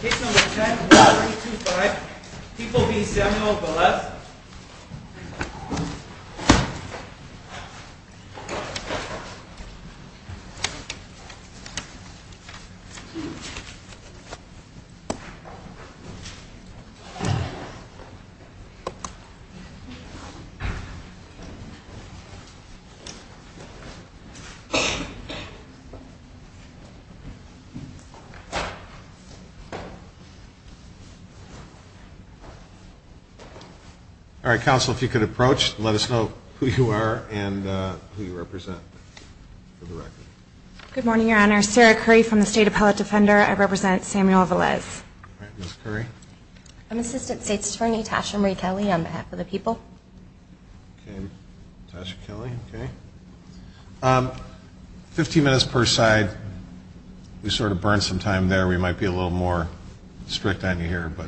Case number 10-1325. People v. Samuel Velez. All right, counsel, if you could approach and let us know who you are and who you represent. Good morning, Your Honor. Sarah Curry from the State Appellate Defender. I represent Samuel Velez. All right, Ms. Curry. I'm Assistant State Attorney Tasha Marie Kelly on behalf of the people. Okay. Tasha Kelly. Okay. Fifteen minutes per side. We sort of burned some time there. We might be a little more strict on you here, but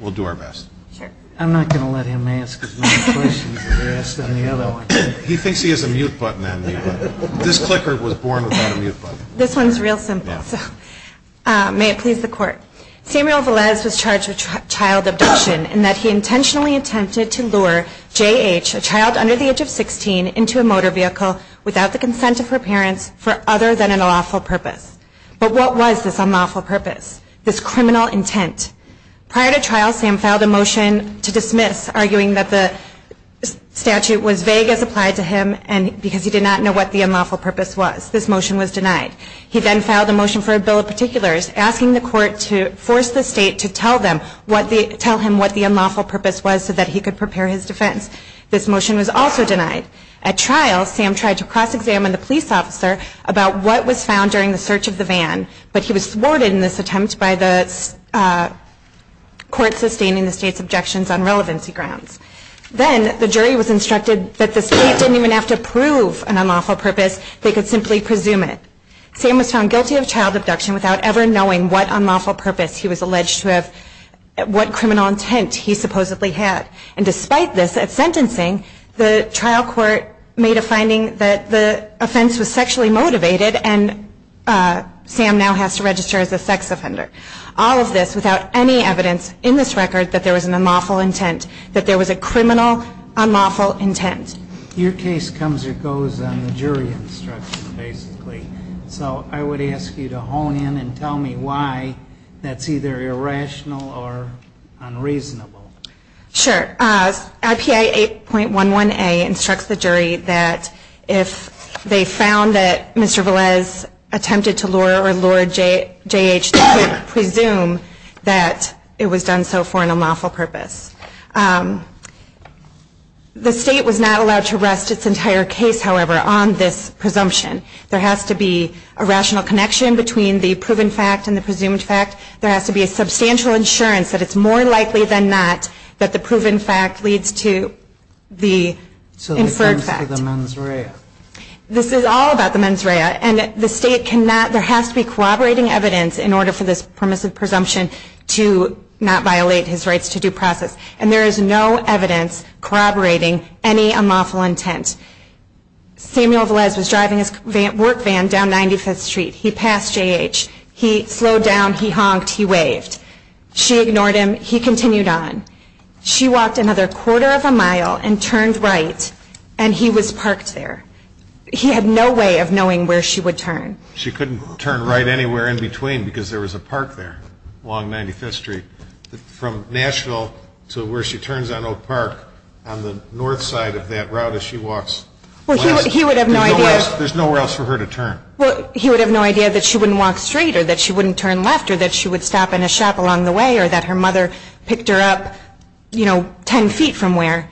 we'll do our best. Sure. I'm not going to let him ask as many questions as he asked on the other one. He thinks he has a mute button on me, but this clicker was born without a mute button. This one's real simple, so may it please the Court. Samuel Velez was charged with child abduction in that he intentionally attempted to lure J.H., a child under the age of 16, into a motor vehicle without the consent of her parents for other than an unlawful purpose. But what was this unlawful purpose, this criminal intent? Prior to trial, Sam filed a motion to dismiss, arguing that the statute was vague as applied to him because he did not know what the unlawful purpose was. This motion was denied. He then filed a motion for a bill of particulars, asking the Court to force the State to tell him what the unlawful purpose was so that he could prepare his defense. This motion was also denied. At trial, Sam tried to cross-examine the police officer about what was found during the search of the van, but he was thwarted in this attempt by the Court sustaining the State's objections on relevancy grounds. Then the jury was instructed that the State didn't even have to prove an unlawful purpose. They could simply presume it. Sam was found guilty of child abduction without ever knowing what unlawful purpose he was alleged to have, what criminal intent he supposedly had. And despite this, at sentencing, the trial court made a finding that the offense was sexually motivated and Sam now has to register as a sex offender. All of this without any evidence in this record that there was an unlawful intent, that there was a criminal unlawful intent. Your case comes or goes on the jury instruction, basically. So I would ask you to hone in and tell me why that's either irrational or unreasonable. Sure. IPA 8.11a instructs the jury that if they found that Mr. Velez attempted to lure or lure J.H., they could presume that it was done so for an unlawful purpose. The State was not allowed to rest its entire case, however, on this presumption. There has to be a rational connection between the proven fact and the presumed fact. There has to be a substantial insurance that it's more likely than not that the proven fact leads to the inferred fact. So it comes to the mens rea. This is all about the mens rea. And the State cannot, there has to be corroborating evidence in order for this permissive presumption to not violate his rights to due process. And there is no evidence corroborating any unlawful intent. Samuel Velez was driving his work van down 95th Street. He passed J.H. He slowed down. He honked. He waved. She ignored him. He continued on. She walked another quarter of a mile and turned right, and he was parked there. He had no way of knowing where she would turn. She couldn't turn right anywhere in between because there was a park there along 95th Street. From Nashville to where she turns on Oak Park on the north side of that route as she walks. Well, he would have no idea. There's nowhere else for her to turn. Well, he would have no idea that she wouldn't walk straight or that she wouldn't turn left or that she would stop in a shop along the way or that her mother picked her up, you know, 10 feet from where.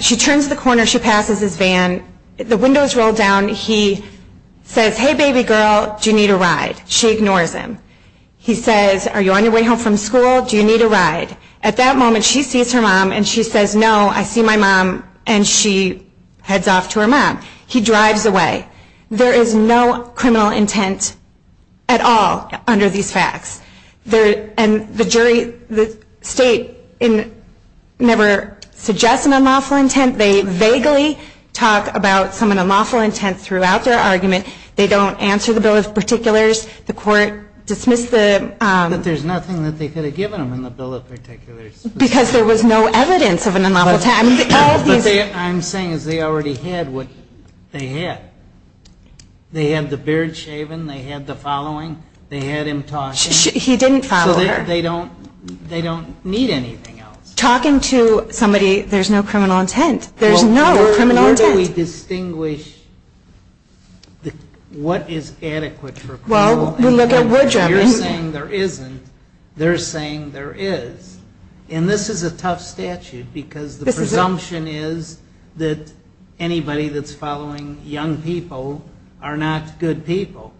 She turns the corner. She passes his van. The windows roll down. He says, hey, baby girl, do you need a ride? She ignores him. He says, are you on your way home from school? Do you need a ride? At that moment, she sees her mom, and she says, no, I see my mom, and she heads off to her mom. He drives away. There is no criminal intent at all under these facts. And the jury, the state never suggests an unlawful intent. They vaguely talk about some unlawful intent throughout their argument. They don't answer the bill of particulars. The court dismissed the ‑‑ But there's nothing that they could have given them in the bill of particulars. Because there was no evidence of an unlawful intent. I'm saying is they already had what they had. They had the beard shaven. They had the following. They had him talking. He didn't follow her. So they don't need anything else. Talking to somebody, there's no criminal intent. There's no criminal intent. How do we distinguish what is adequate for criminal intent? You're saying there isn't. They're saying there is. And this is a tough statute because the presumption is that anybody that's following young people are not good people.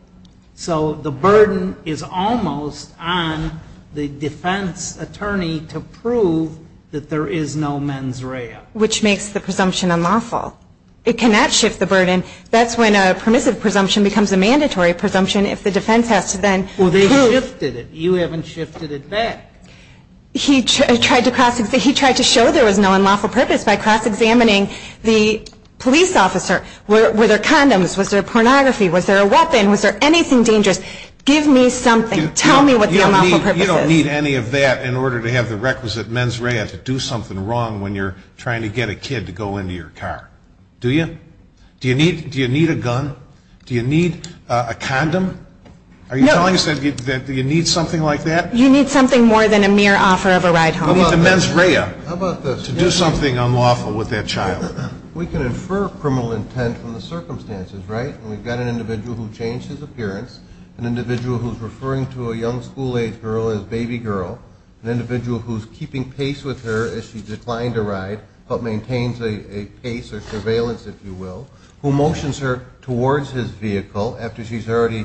So the burden is almost on the defense attorney to prove that there is no mens rea. Which makes the presumption unlawful. It cannot shift the burden. That's when a permissive presumption becomes a mandatory presumption if the defense has to then prove ‑‑ Well, they shifted it. You haven't shifted it back. He tried to show there was no unlawful purpose by cross examining the police officer. Were there condoms? Was there pornography? Was there a weapon? Was there anything dangerous? Give me something. Tell me what the unlawful purpose is. You don't need any of that in order to have the requisite mens rea to do something wrong when you're trying to get a kid to go into your car. Do you? Do you need a gun? Do you need a condom? Are you telling us that you need something like that? You need something more than a mere offer of a ride home. You need the mens rea to do something unlawful with that child. We can infer criminal intent from the circumstances, right? And we've got an individual who changed his appearance, an individual who's referring to a young school age girl as baby girl, an individual who's keeping pace with her as she's declined a ride but maintains a pace or surveillance, if you will, who motions her towards his vehicle after she's already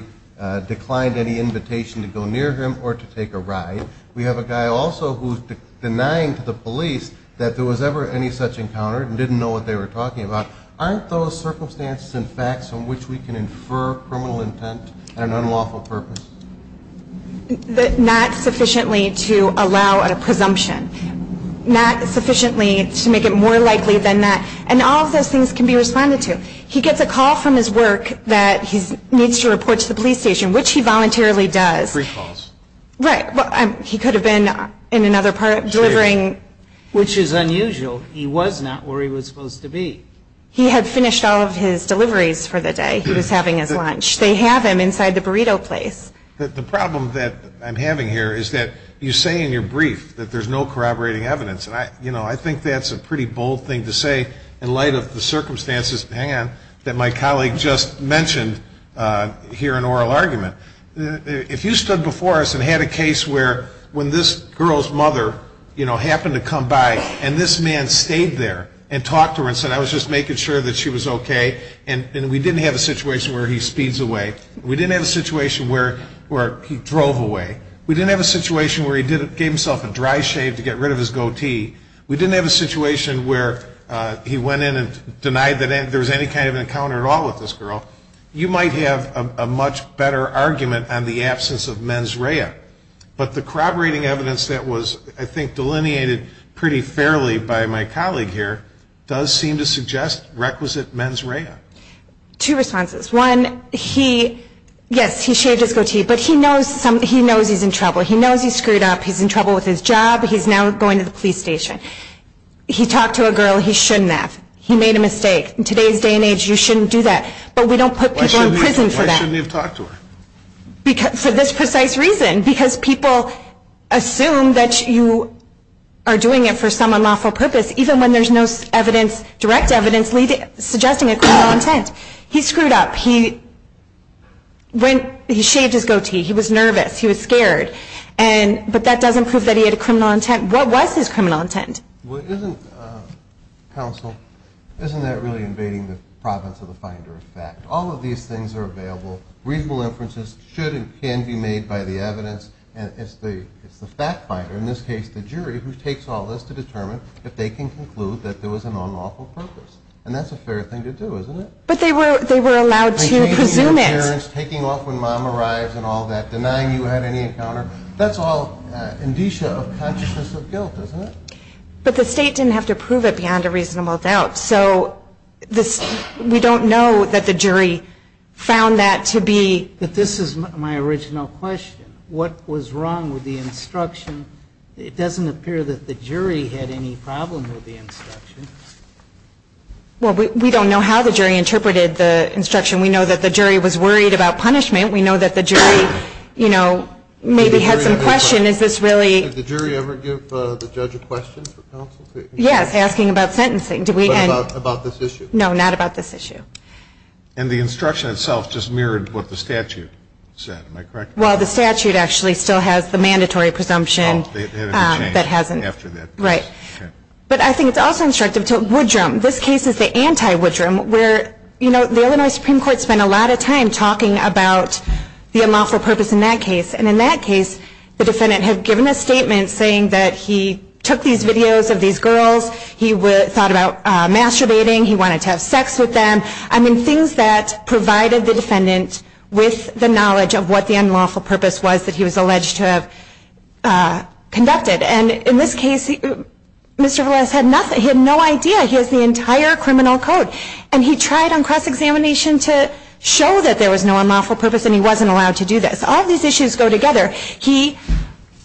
declined any invitation to go near him or to take a ride. We have a guy also who's denying to the police that there was ever any such encounter and didn't know what they were talking about. Aren't those circumstances and facts on which we can infer criminal intent and an unlawful purpose? Not sufficiently to allow a presumption. Not sufficiently to make it more likely than that. And all of those things can be responded to. He gets a call from his work that he needs to report to the police station, which he voluntarily does. Free calls. Right. He could have been in another part delivering. Which is unusual. He was not where he was supposed to be. He had finished all of his deliveries for the day. He was having his lunch. They have him inside the burrito place. The problem that I'm having here is that you say in your brief that there's no corroborating evidence, and I think that's a pretty bold thing to say in light of the circumstances, hang on, that my colleague just mentioned here in oral argument. If you stood before us and had a case where when this girl's mother, you know, happened to come by and this man stayed there and talked to her and said, I was just making sure that she was okay, and we didn't have a situation where he speeds away. We didn't have a situation where he drove away. We didn't have a situation where he gave himself a dry shave to get rid of his goatee. We didn't have a situation where he went in and denied that there was any kind of encounter at all with this girl. You might have a much better argument on the absence of mens rea, but the corroborating evidence that was I think delineated pretty fairly by my colleague here does seem to suggest requisite mens rea. Two responses. One, he, yes, he shaved his goatee, but he knows he's in trouble. He knows he screwed up. He's in trouble with his job. He's now going to the police station. He talked to a girl he shouldn't have. He made a mistake. In today's day and age, you shouldn't do that. But we don't put people in prison for that. Why shouldn't he have talked to her? For this precise reason, because people assume that you are doing it for some unlawful purpose, even when there's no direct evidence suggesting a criminal intent. He screwed up. He shaved his goatee. He was nervous. He was scared. But that doesn't prove that he had a criminal intent. What was his criminal intent? Well, isn't, counsel, isn't that really invading the province of the finder of fact? All of these things are available. Reasonable inferences should and can be made by the evidence. And it's the fact finder, in this case, the jury, who takes all this to determine if they can conclude that there was an unlawful purpose. And that's a fair thing to do, isn't it? But they were allowed to presume it. Taking off when mom arrives and all that, denying you had any encounter. That's all indicia of consciousness of guilt, isn't it? But the state didn't have to prove it beyond a reasonable doubt. So we don't know that the jury found that to be. But this is my original question. What was wrong with the instruction? It doesn't appear that the jury had any problem with the instruction. Well, we don't know how the jury interpreted the instruction. We know that the jury was worried about punishment. We know that the jury, you know, maybe had some question. Did the jury ever give the judge a question for counsel? Yes, asking about sentencing. About this issue? No, not about this issue. And the instruction itself just mirrored what the statute said, am I correct? Well, the statute actually still has the mandatory presumption that hasn't. Right. But I think it's also instructive to Woodrum. This case is the anti-Woodrum where, you know, the Illinois Supreme Court spent a lot of time talking about the unlawful purpose in that case. And in that case, the defendant had given a statement saying that he took these videos of these girls. He thought about masturbating. He wanted to have sex with them. I mean, things that provided the defendant with the knowledge of what the unlawful purpose was that he was alleged to have conducted. And in this case, Mr. Vales had no idea. He has the entire criminal code. And he tried on cross-examination to show that there was no unlawful purpose, and he wasn't allowed to do this. All these issues go together. He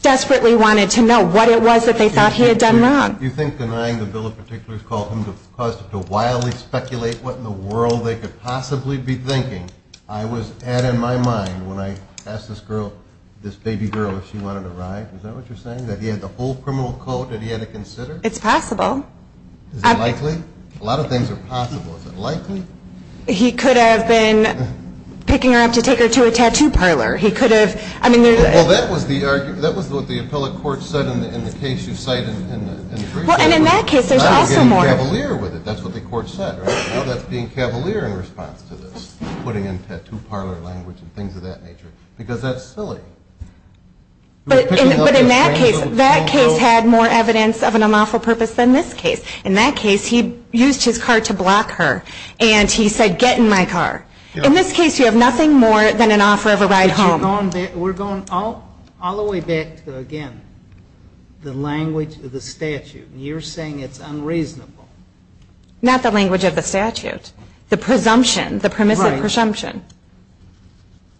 desperately wanted to know what it was that they thought he had done wrong. You think denying the bill of particulars caused him to wildly speculate what in the world they could possibly be thinking? I was at, in my mind, when I asked this girl, this baby girl, if she wanted a ride, is that what you're saying, that he had the whole criminal code that he had to consider? It's possible. A lot of things are possible. Is it likely? He could have been picking her up to take her to a tattoo parlor. He could have. Well, that was the argument. That was what the appellate court said in the case you cite in the brief. Well, and in that case, there's also more. Cavalier with it. That's what the court said, right? Now that's being cavalier in response to this, putting in tattoo parlor language and things of that nature, because that's silly. But in that case, that case had more evidence of an unlawful purpose than this case. In that case, he used his car to block her. And he said, get in my car. In this case, you have nothing more than an offer of a ride home. But we're going all the way back to, again, the language of the statute. You're saying it's unreasonable. Not the language of the statute. The presumption, the permissive presumption. Right.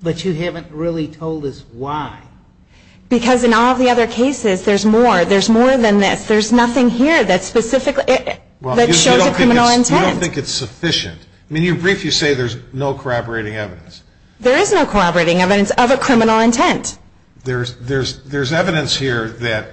But you haven't really told us why. Because in all the other cases, there's more. There's more than this. There's nothing here that specifically, that shows a criminal intent. I don't think it's sufficient. In your brief, you say there's no corroborating evidence. There is no corroborating evidence of a criminal intent. There's evidence here that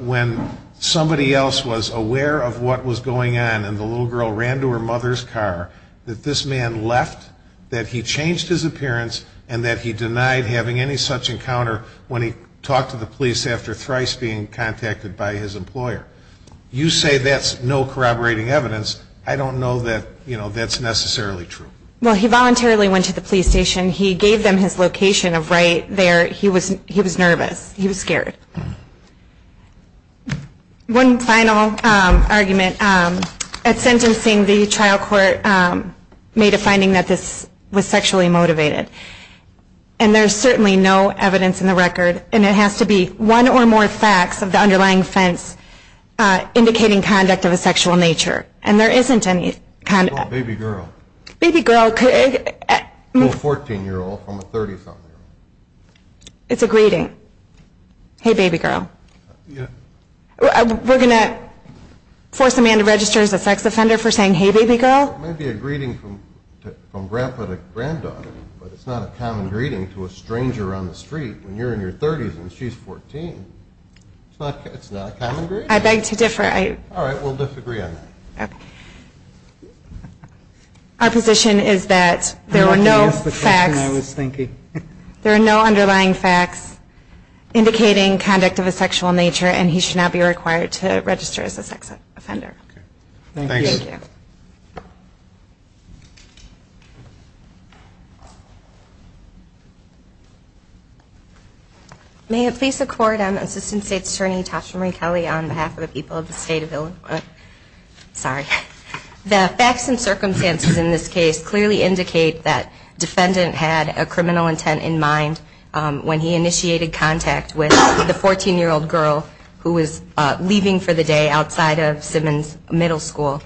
when somebody else was aware of what was going on, and the little girl ran to her mother's car, that this man left, that he changed his appearance, and that he denied having any such encounter when he talked to the police after thrice being contacted by his employer. You say that's no corroborating evidence. I don't know that that's necessarily true. Well, he voluntarily went to the police station. He gave them his location of right there. He was nervous. He was scared. One final argument. At sentencing, the trial court made a finding that this was sexually motivated. And there's certainly no evidence in the record, and it has to be one or more facts of the underlying offense indicating conduct of a sexual nature. And there isn't any kind of... Oh, baby girl. Baby girl could... Well, a 14-year-old from a 30-something-year-old. It's a greeting. Hey, baby girl. Yeah. We're going to force a man to register as a sex offender for saying hey, baby girl? It may be a greeting from grandpa to granddaughter, but it's not a common greeting to a stranger on the street when you're in your 30s and she's 14. It's not a common greeting. I beg to differ. All right. We'll disagree on that. Okay. Our position is that there are no facts. I'm not going to ask the question I was thinking. There are no underlying facts indicating conduct of a sexual nature, and he should not be required to register as a sex offender. Okay. Thank you. Thank you. May it please the Court, I'm Assistant State's Attorney Tasha Marie Kelly on behalf of the people of the State of Illinois. Sorry. The facts and circumstances in this case clearly indicate that defendant had a criminal intent in mind when he initiated contact with the 14-year-old girl who was leaving for the day outside of Simmons Middle School.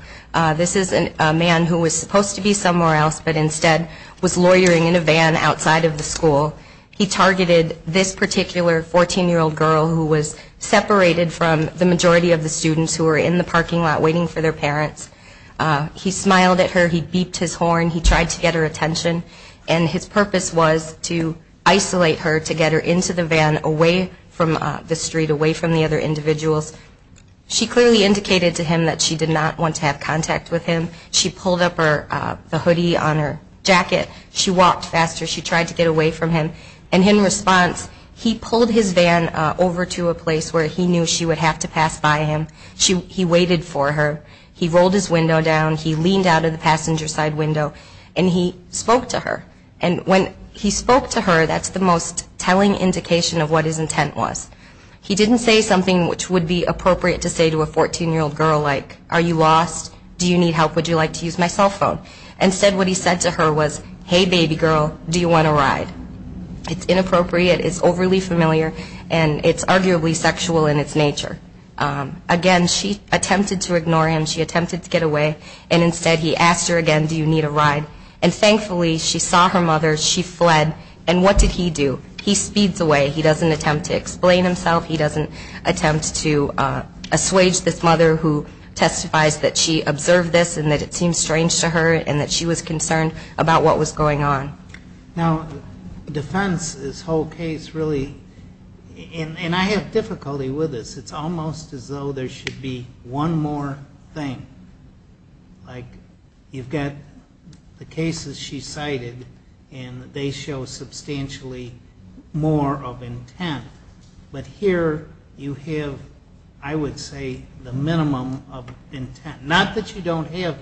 This is a man who was supposed to be somewhere else, but instead was lawyering in a van outside of the school. He targeted this particular 14-year-old girl who was separated from the majority of the students who were in the parking lot waiting for their parents. He smiled at her. He beeped his horn. He tried to get her attention, and his purpose was to isolate her to get her into the van away from the street, away from the other individuals. She clearly indicated to him that she did not want to have contact with him. She pulled up the hoodie on her jacket. She walked faster. She tried to get away from him. And in response, he pulled his van over to a place where he knew she would have to pass by him. He waited for her. He rolled his window down. He leaned out of the passenger side window, and he spoke to her. And when he spoke to her, that's the most telling indication of what his intent was. He didn't say something which would be appropriate to say to a 14-year-old girl like, are you lost? Do you need help? Would you like to use my cell phone? Instead, what he said to her was, hey, baby girl, do you want a ride? It's inappropriate. It's overly familiar. And it's arguably sexual in its nature. Again, she attempted to ignore him. She attempted to get away. And instead, he asked her again, do you need a ride? And thankfully, she saw her mother. She fled. And what did he do? He speeds away. He doesn't attempt to explain himself. He doesn't attempt to assuage this mother who testifies that she observed this and that it seemed strange to her and that she was concerned about what was going on. Now, defense, this whole case, really, and I have difficulty with this. It's almost as though there should be one more thing. Like, you've got the cases she cited, and they show substantially more of intent. But here you have, I would say, the minimum of intent. Not that you don't have,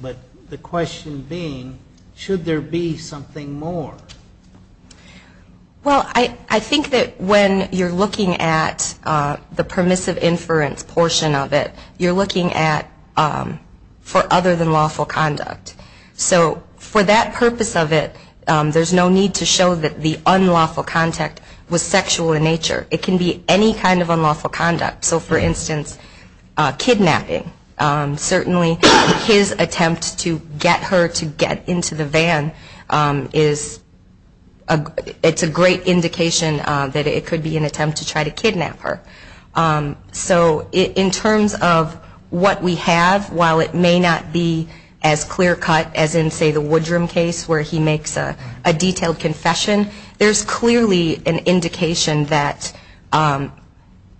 but the question being, should there be something more? Well, I think that when you're looking at the permissive inference portion of it, you're looking at for other than lawful conduct. So for that purpose of it, there's no need to show that the unlawful contact was sexual in nature. It can be any kind of unlawful conduct. So, for instance, kidnapping. Certainly his attempt to get her to get into the van is a great indication that it could be an attempt to try to kidnap her. So in terms of what we have, while it may not be as clear cut as in, say, the Woodrum case where he makes a detailed confession, there's clearly an indication that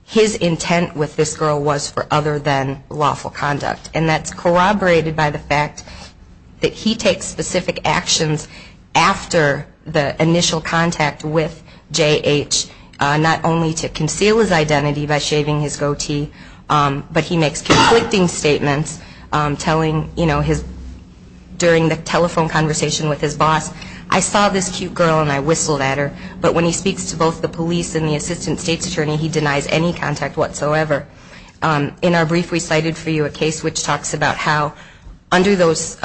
his intent with this girl was for other than lawful conduct. And that's corroborated by the fact that he takes specific actions after the initial contact with J.H., not only to conceal his identity by shaving his goatee, but he makes conflicting statements telling, you know, during the telephone conversation with his boss, I saw this cute girl and I whistled at her. But when he speaks to both the police and the assistant state's attorney, he denies any contact whatsoever. In our brief we cited for you a case which talks about how under those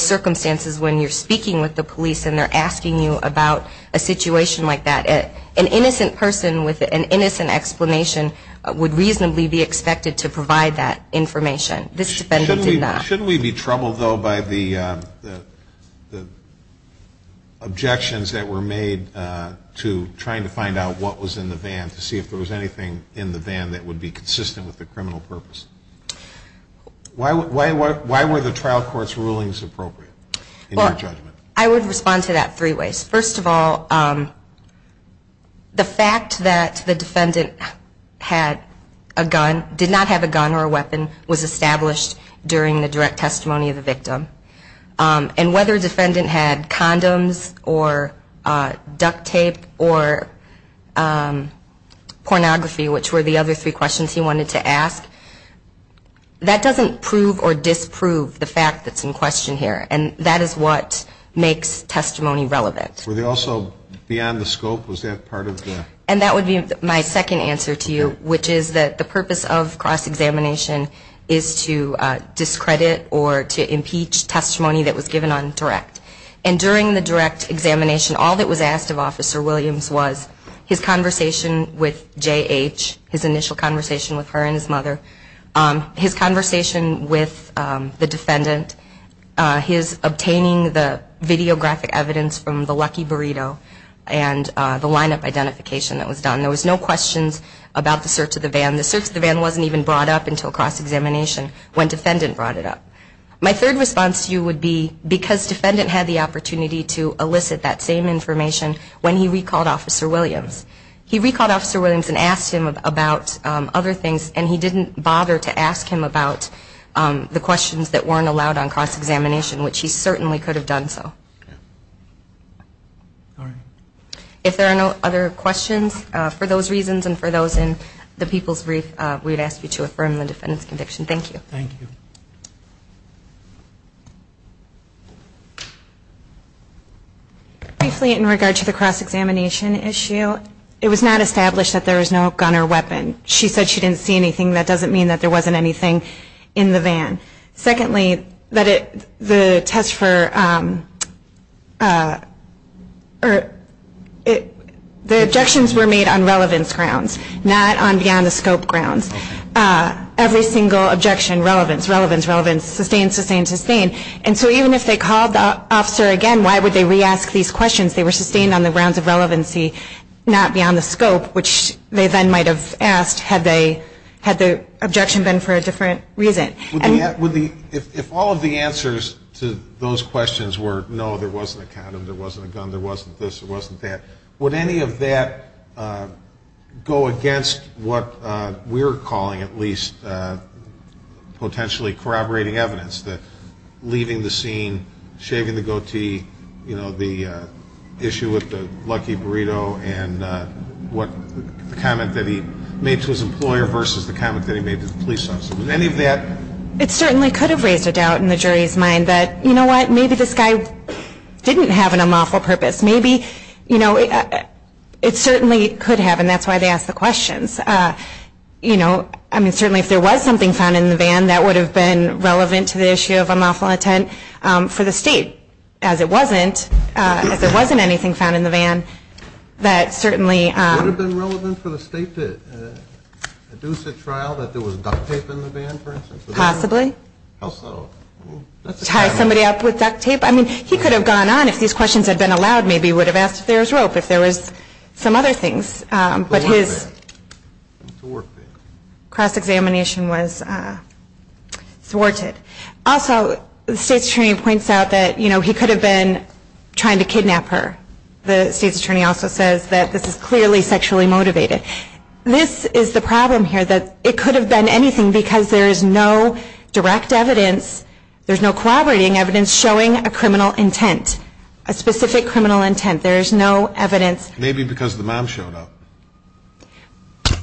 circumstances when you're speaking with the police and they're asking you about a situation like that, an innocent person with an innocent explanation would reasonably be expected to provide that information. This defendant did not. Should we be troubled, though, by the objections that were made to trying to find out what was in the van, to see if there was anything in the van that would be consistent with the criminal purpose? Why were the trial court's rulings appropriate in your judgment? I would respond to that three ways. First of all, the fact that the defendant had a gun, did not have a gun or a weapon, was established during the direct testimony of the victim. And whether a defendant had condoms or duct tape or pornography, which were the other three questions he wanted to ask, that doesn't prove or disprove the fact that's in question here. And that is what makes testimony relevant. Were they also beyond the scope? Was that part of the... And that would be my second answer to you, which is that the purpose of cross-examination is to discredit or to impeach testimony that was given on direct. And during the direct examination, all that was asked of Officer Williams was his conversation with J.H., his initial conversation with her and his mother, his conversation with the defendant, his obtaining the videographic evidence from the Lucky Burrito, and the lineup identification that was done. There was no questions about the search of the van. The search of the van wasn't even brought up until cross-examination when defendant brought it up. My third response to you would be because defendant had the opportunity to elicit that same information when he recalled Officer Williams. He recalled Officer Williams and asked him about other things and he didn't bother to ask him about the questions that weren't allowed on cross-examination, which he certainly could have done so. If there are no other questions, for those reasons and for those in the people's brief, we would ask you to affirm the defendant's conviction. Thank you. Thank you. Briefly in regard to the cross-examination issue, it was not established that there was no gun or weapon. She said she didn't see anything. That doesn't mean that there wasn't anything in the van. Secondly, the objections were made on relevance grounds, not on beyond the scope grounds. Every single objection, relevance, relevance, relevance, sustained, sustained, sustained. And so even if they called the officer again, why would they re-ask these questions? They were sustained on the grounds of relevancy, not beyond the scope, which they then might have asked had they, had the objection been for a different reason. If all of the answers to those questions were no, there wasn't a condom, there wasn't a gun, there wasn't this, there wasn't that, would any of that go against what we're calling at least potentially corroborating evidence, that leaving the scene, shaving the goatee, you know, the, you know, the, you know, the gun, the gun, the gun, the gun, the gun, the gun, the gun, the gun. The issue with the Lucky Burrito and what, the comment that he made to his employer versus the comment that he made to the police officer. Would any of that? It certainly could have raised a doubt in the jury's mind that, you know what, maybe this guy didn't have an unlawful purpose. Maybe, you know, it certainly could have, and that's why they asked the questions. You know, I mean, certainly if there was something found in the van, that would have been relevant to the issue of unlawful intent for the state. As it wasn't, as there wasn't anything found in the van, that certainly... Would it have been relevant for the state to induce a trial that there was duct tape in the van, for instance? Possibly. Tie somebody up with duct tape? I mean, he could have gone on, if these questions had been allowed, maybe he would have asked if there was rope, if there was some other things, but his cross-examination was thwarted. Also, the state's attorney points out that, you know, he could have been trying to kidnap her. The state's attorney also says that this is clearly sexually motivated. This is the problem here, that it could have been anything, because there is no direct evidence, there's no corroborating evidence showing a criminal intent, a specific criminal intent. There is no evidence... Maybe because the mom showed up.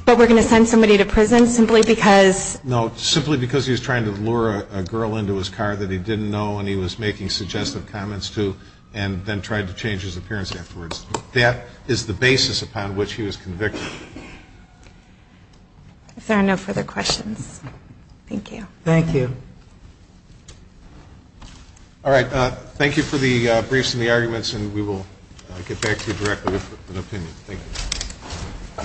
But we're going to send somebody to prison simply because... No, simply because he was trying to lure a girl into his car that he didn't know and he was making suggestive comments to, and then tried to change his appearance afterwards. That is the basis upon which he was convicted. If there are no further questions, thank you. Thank you. All right. Thank you for the briefs and the arguments, and we will get back to you directly with an opinion. Thank you.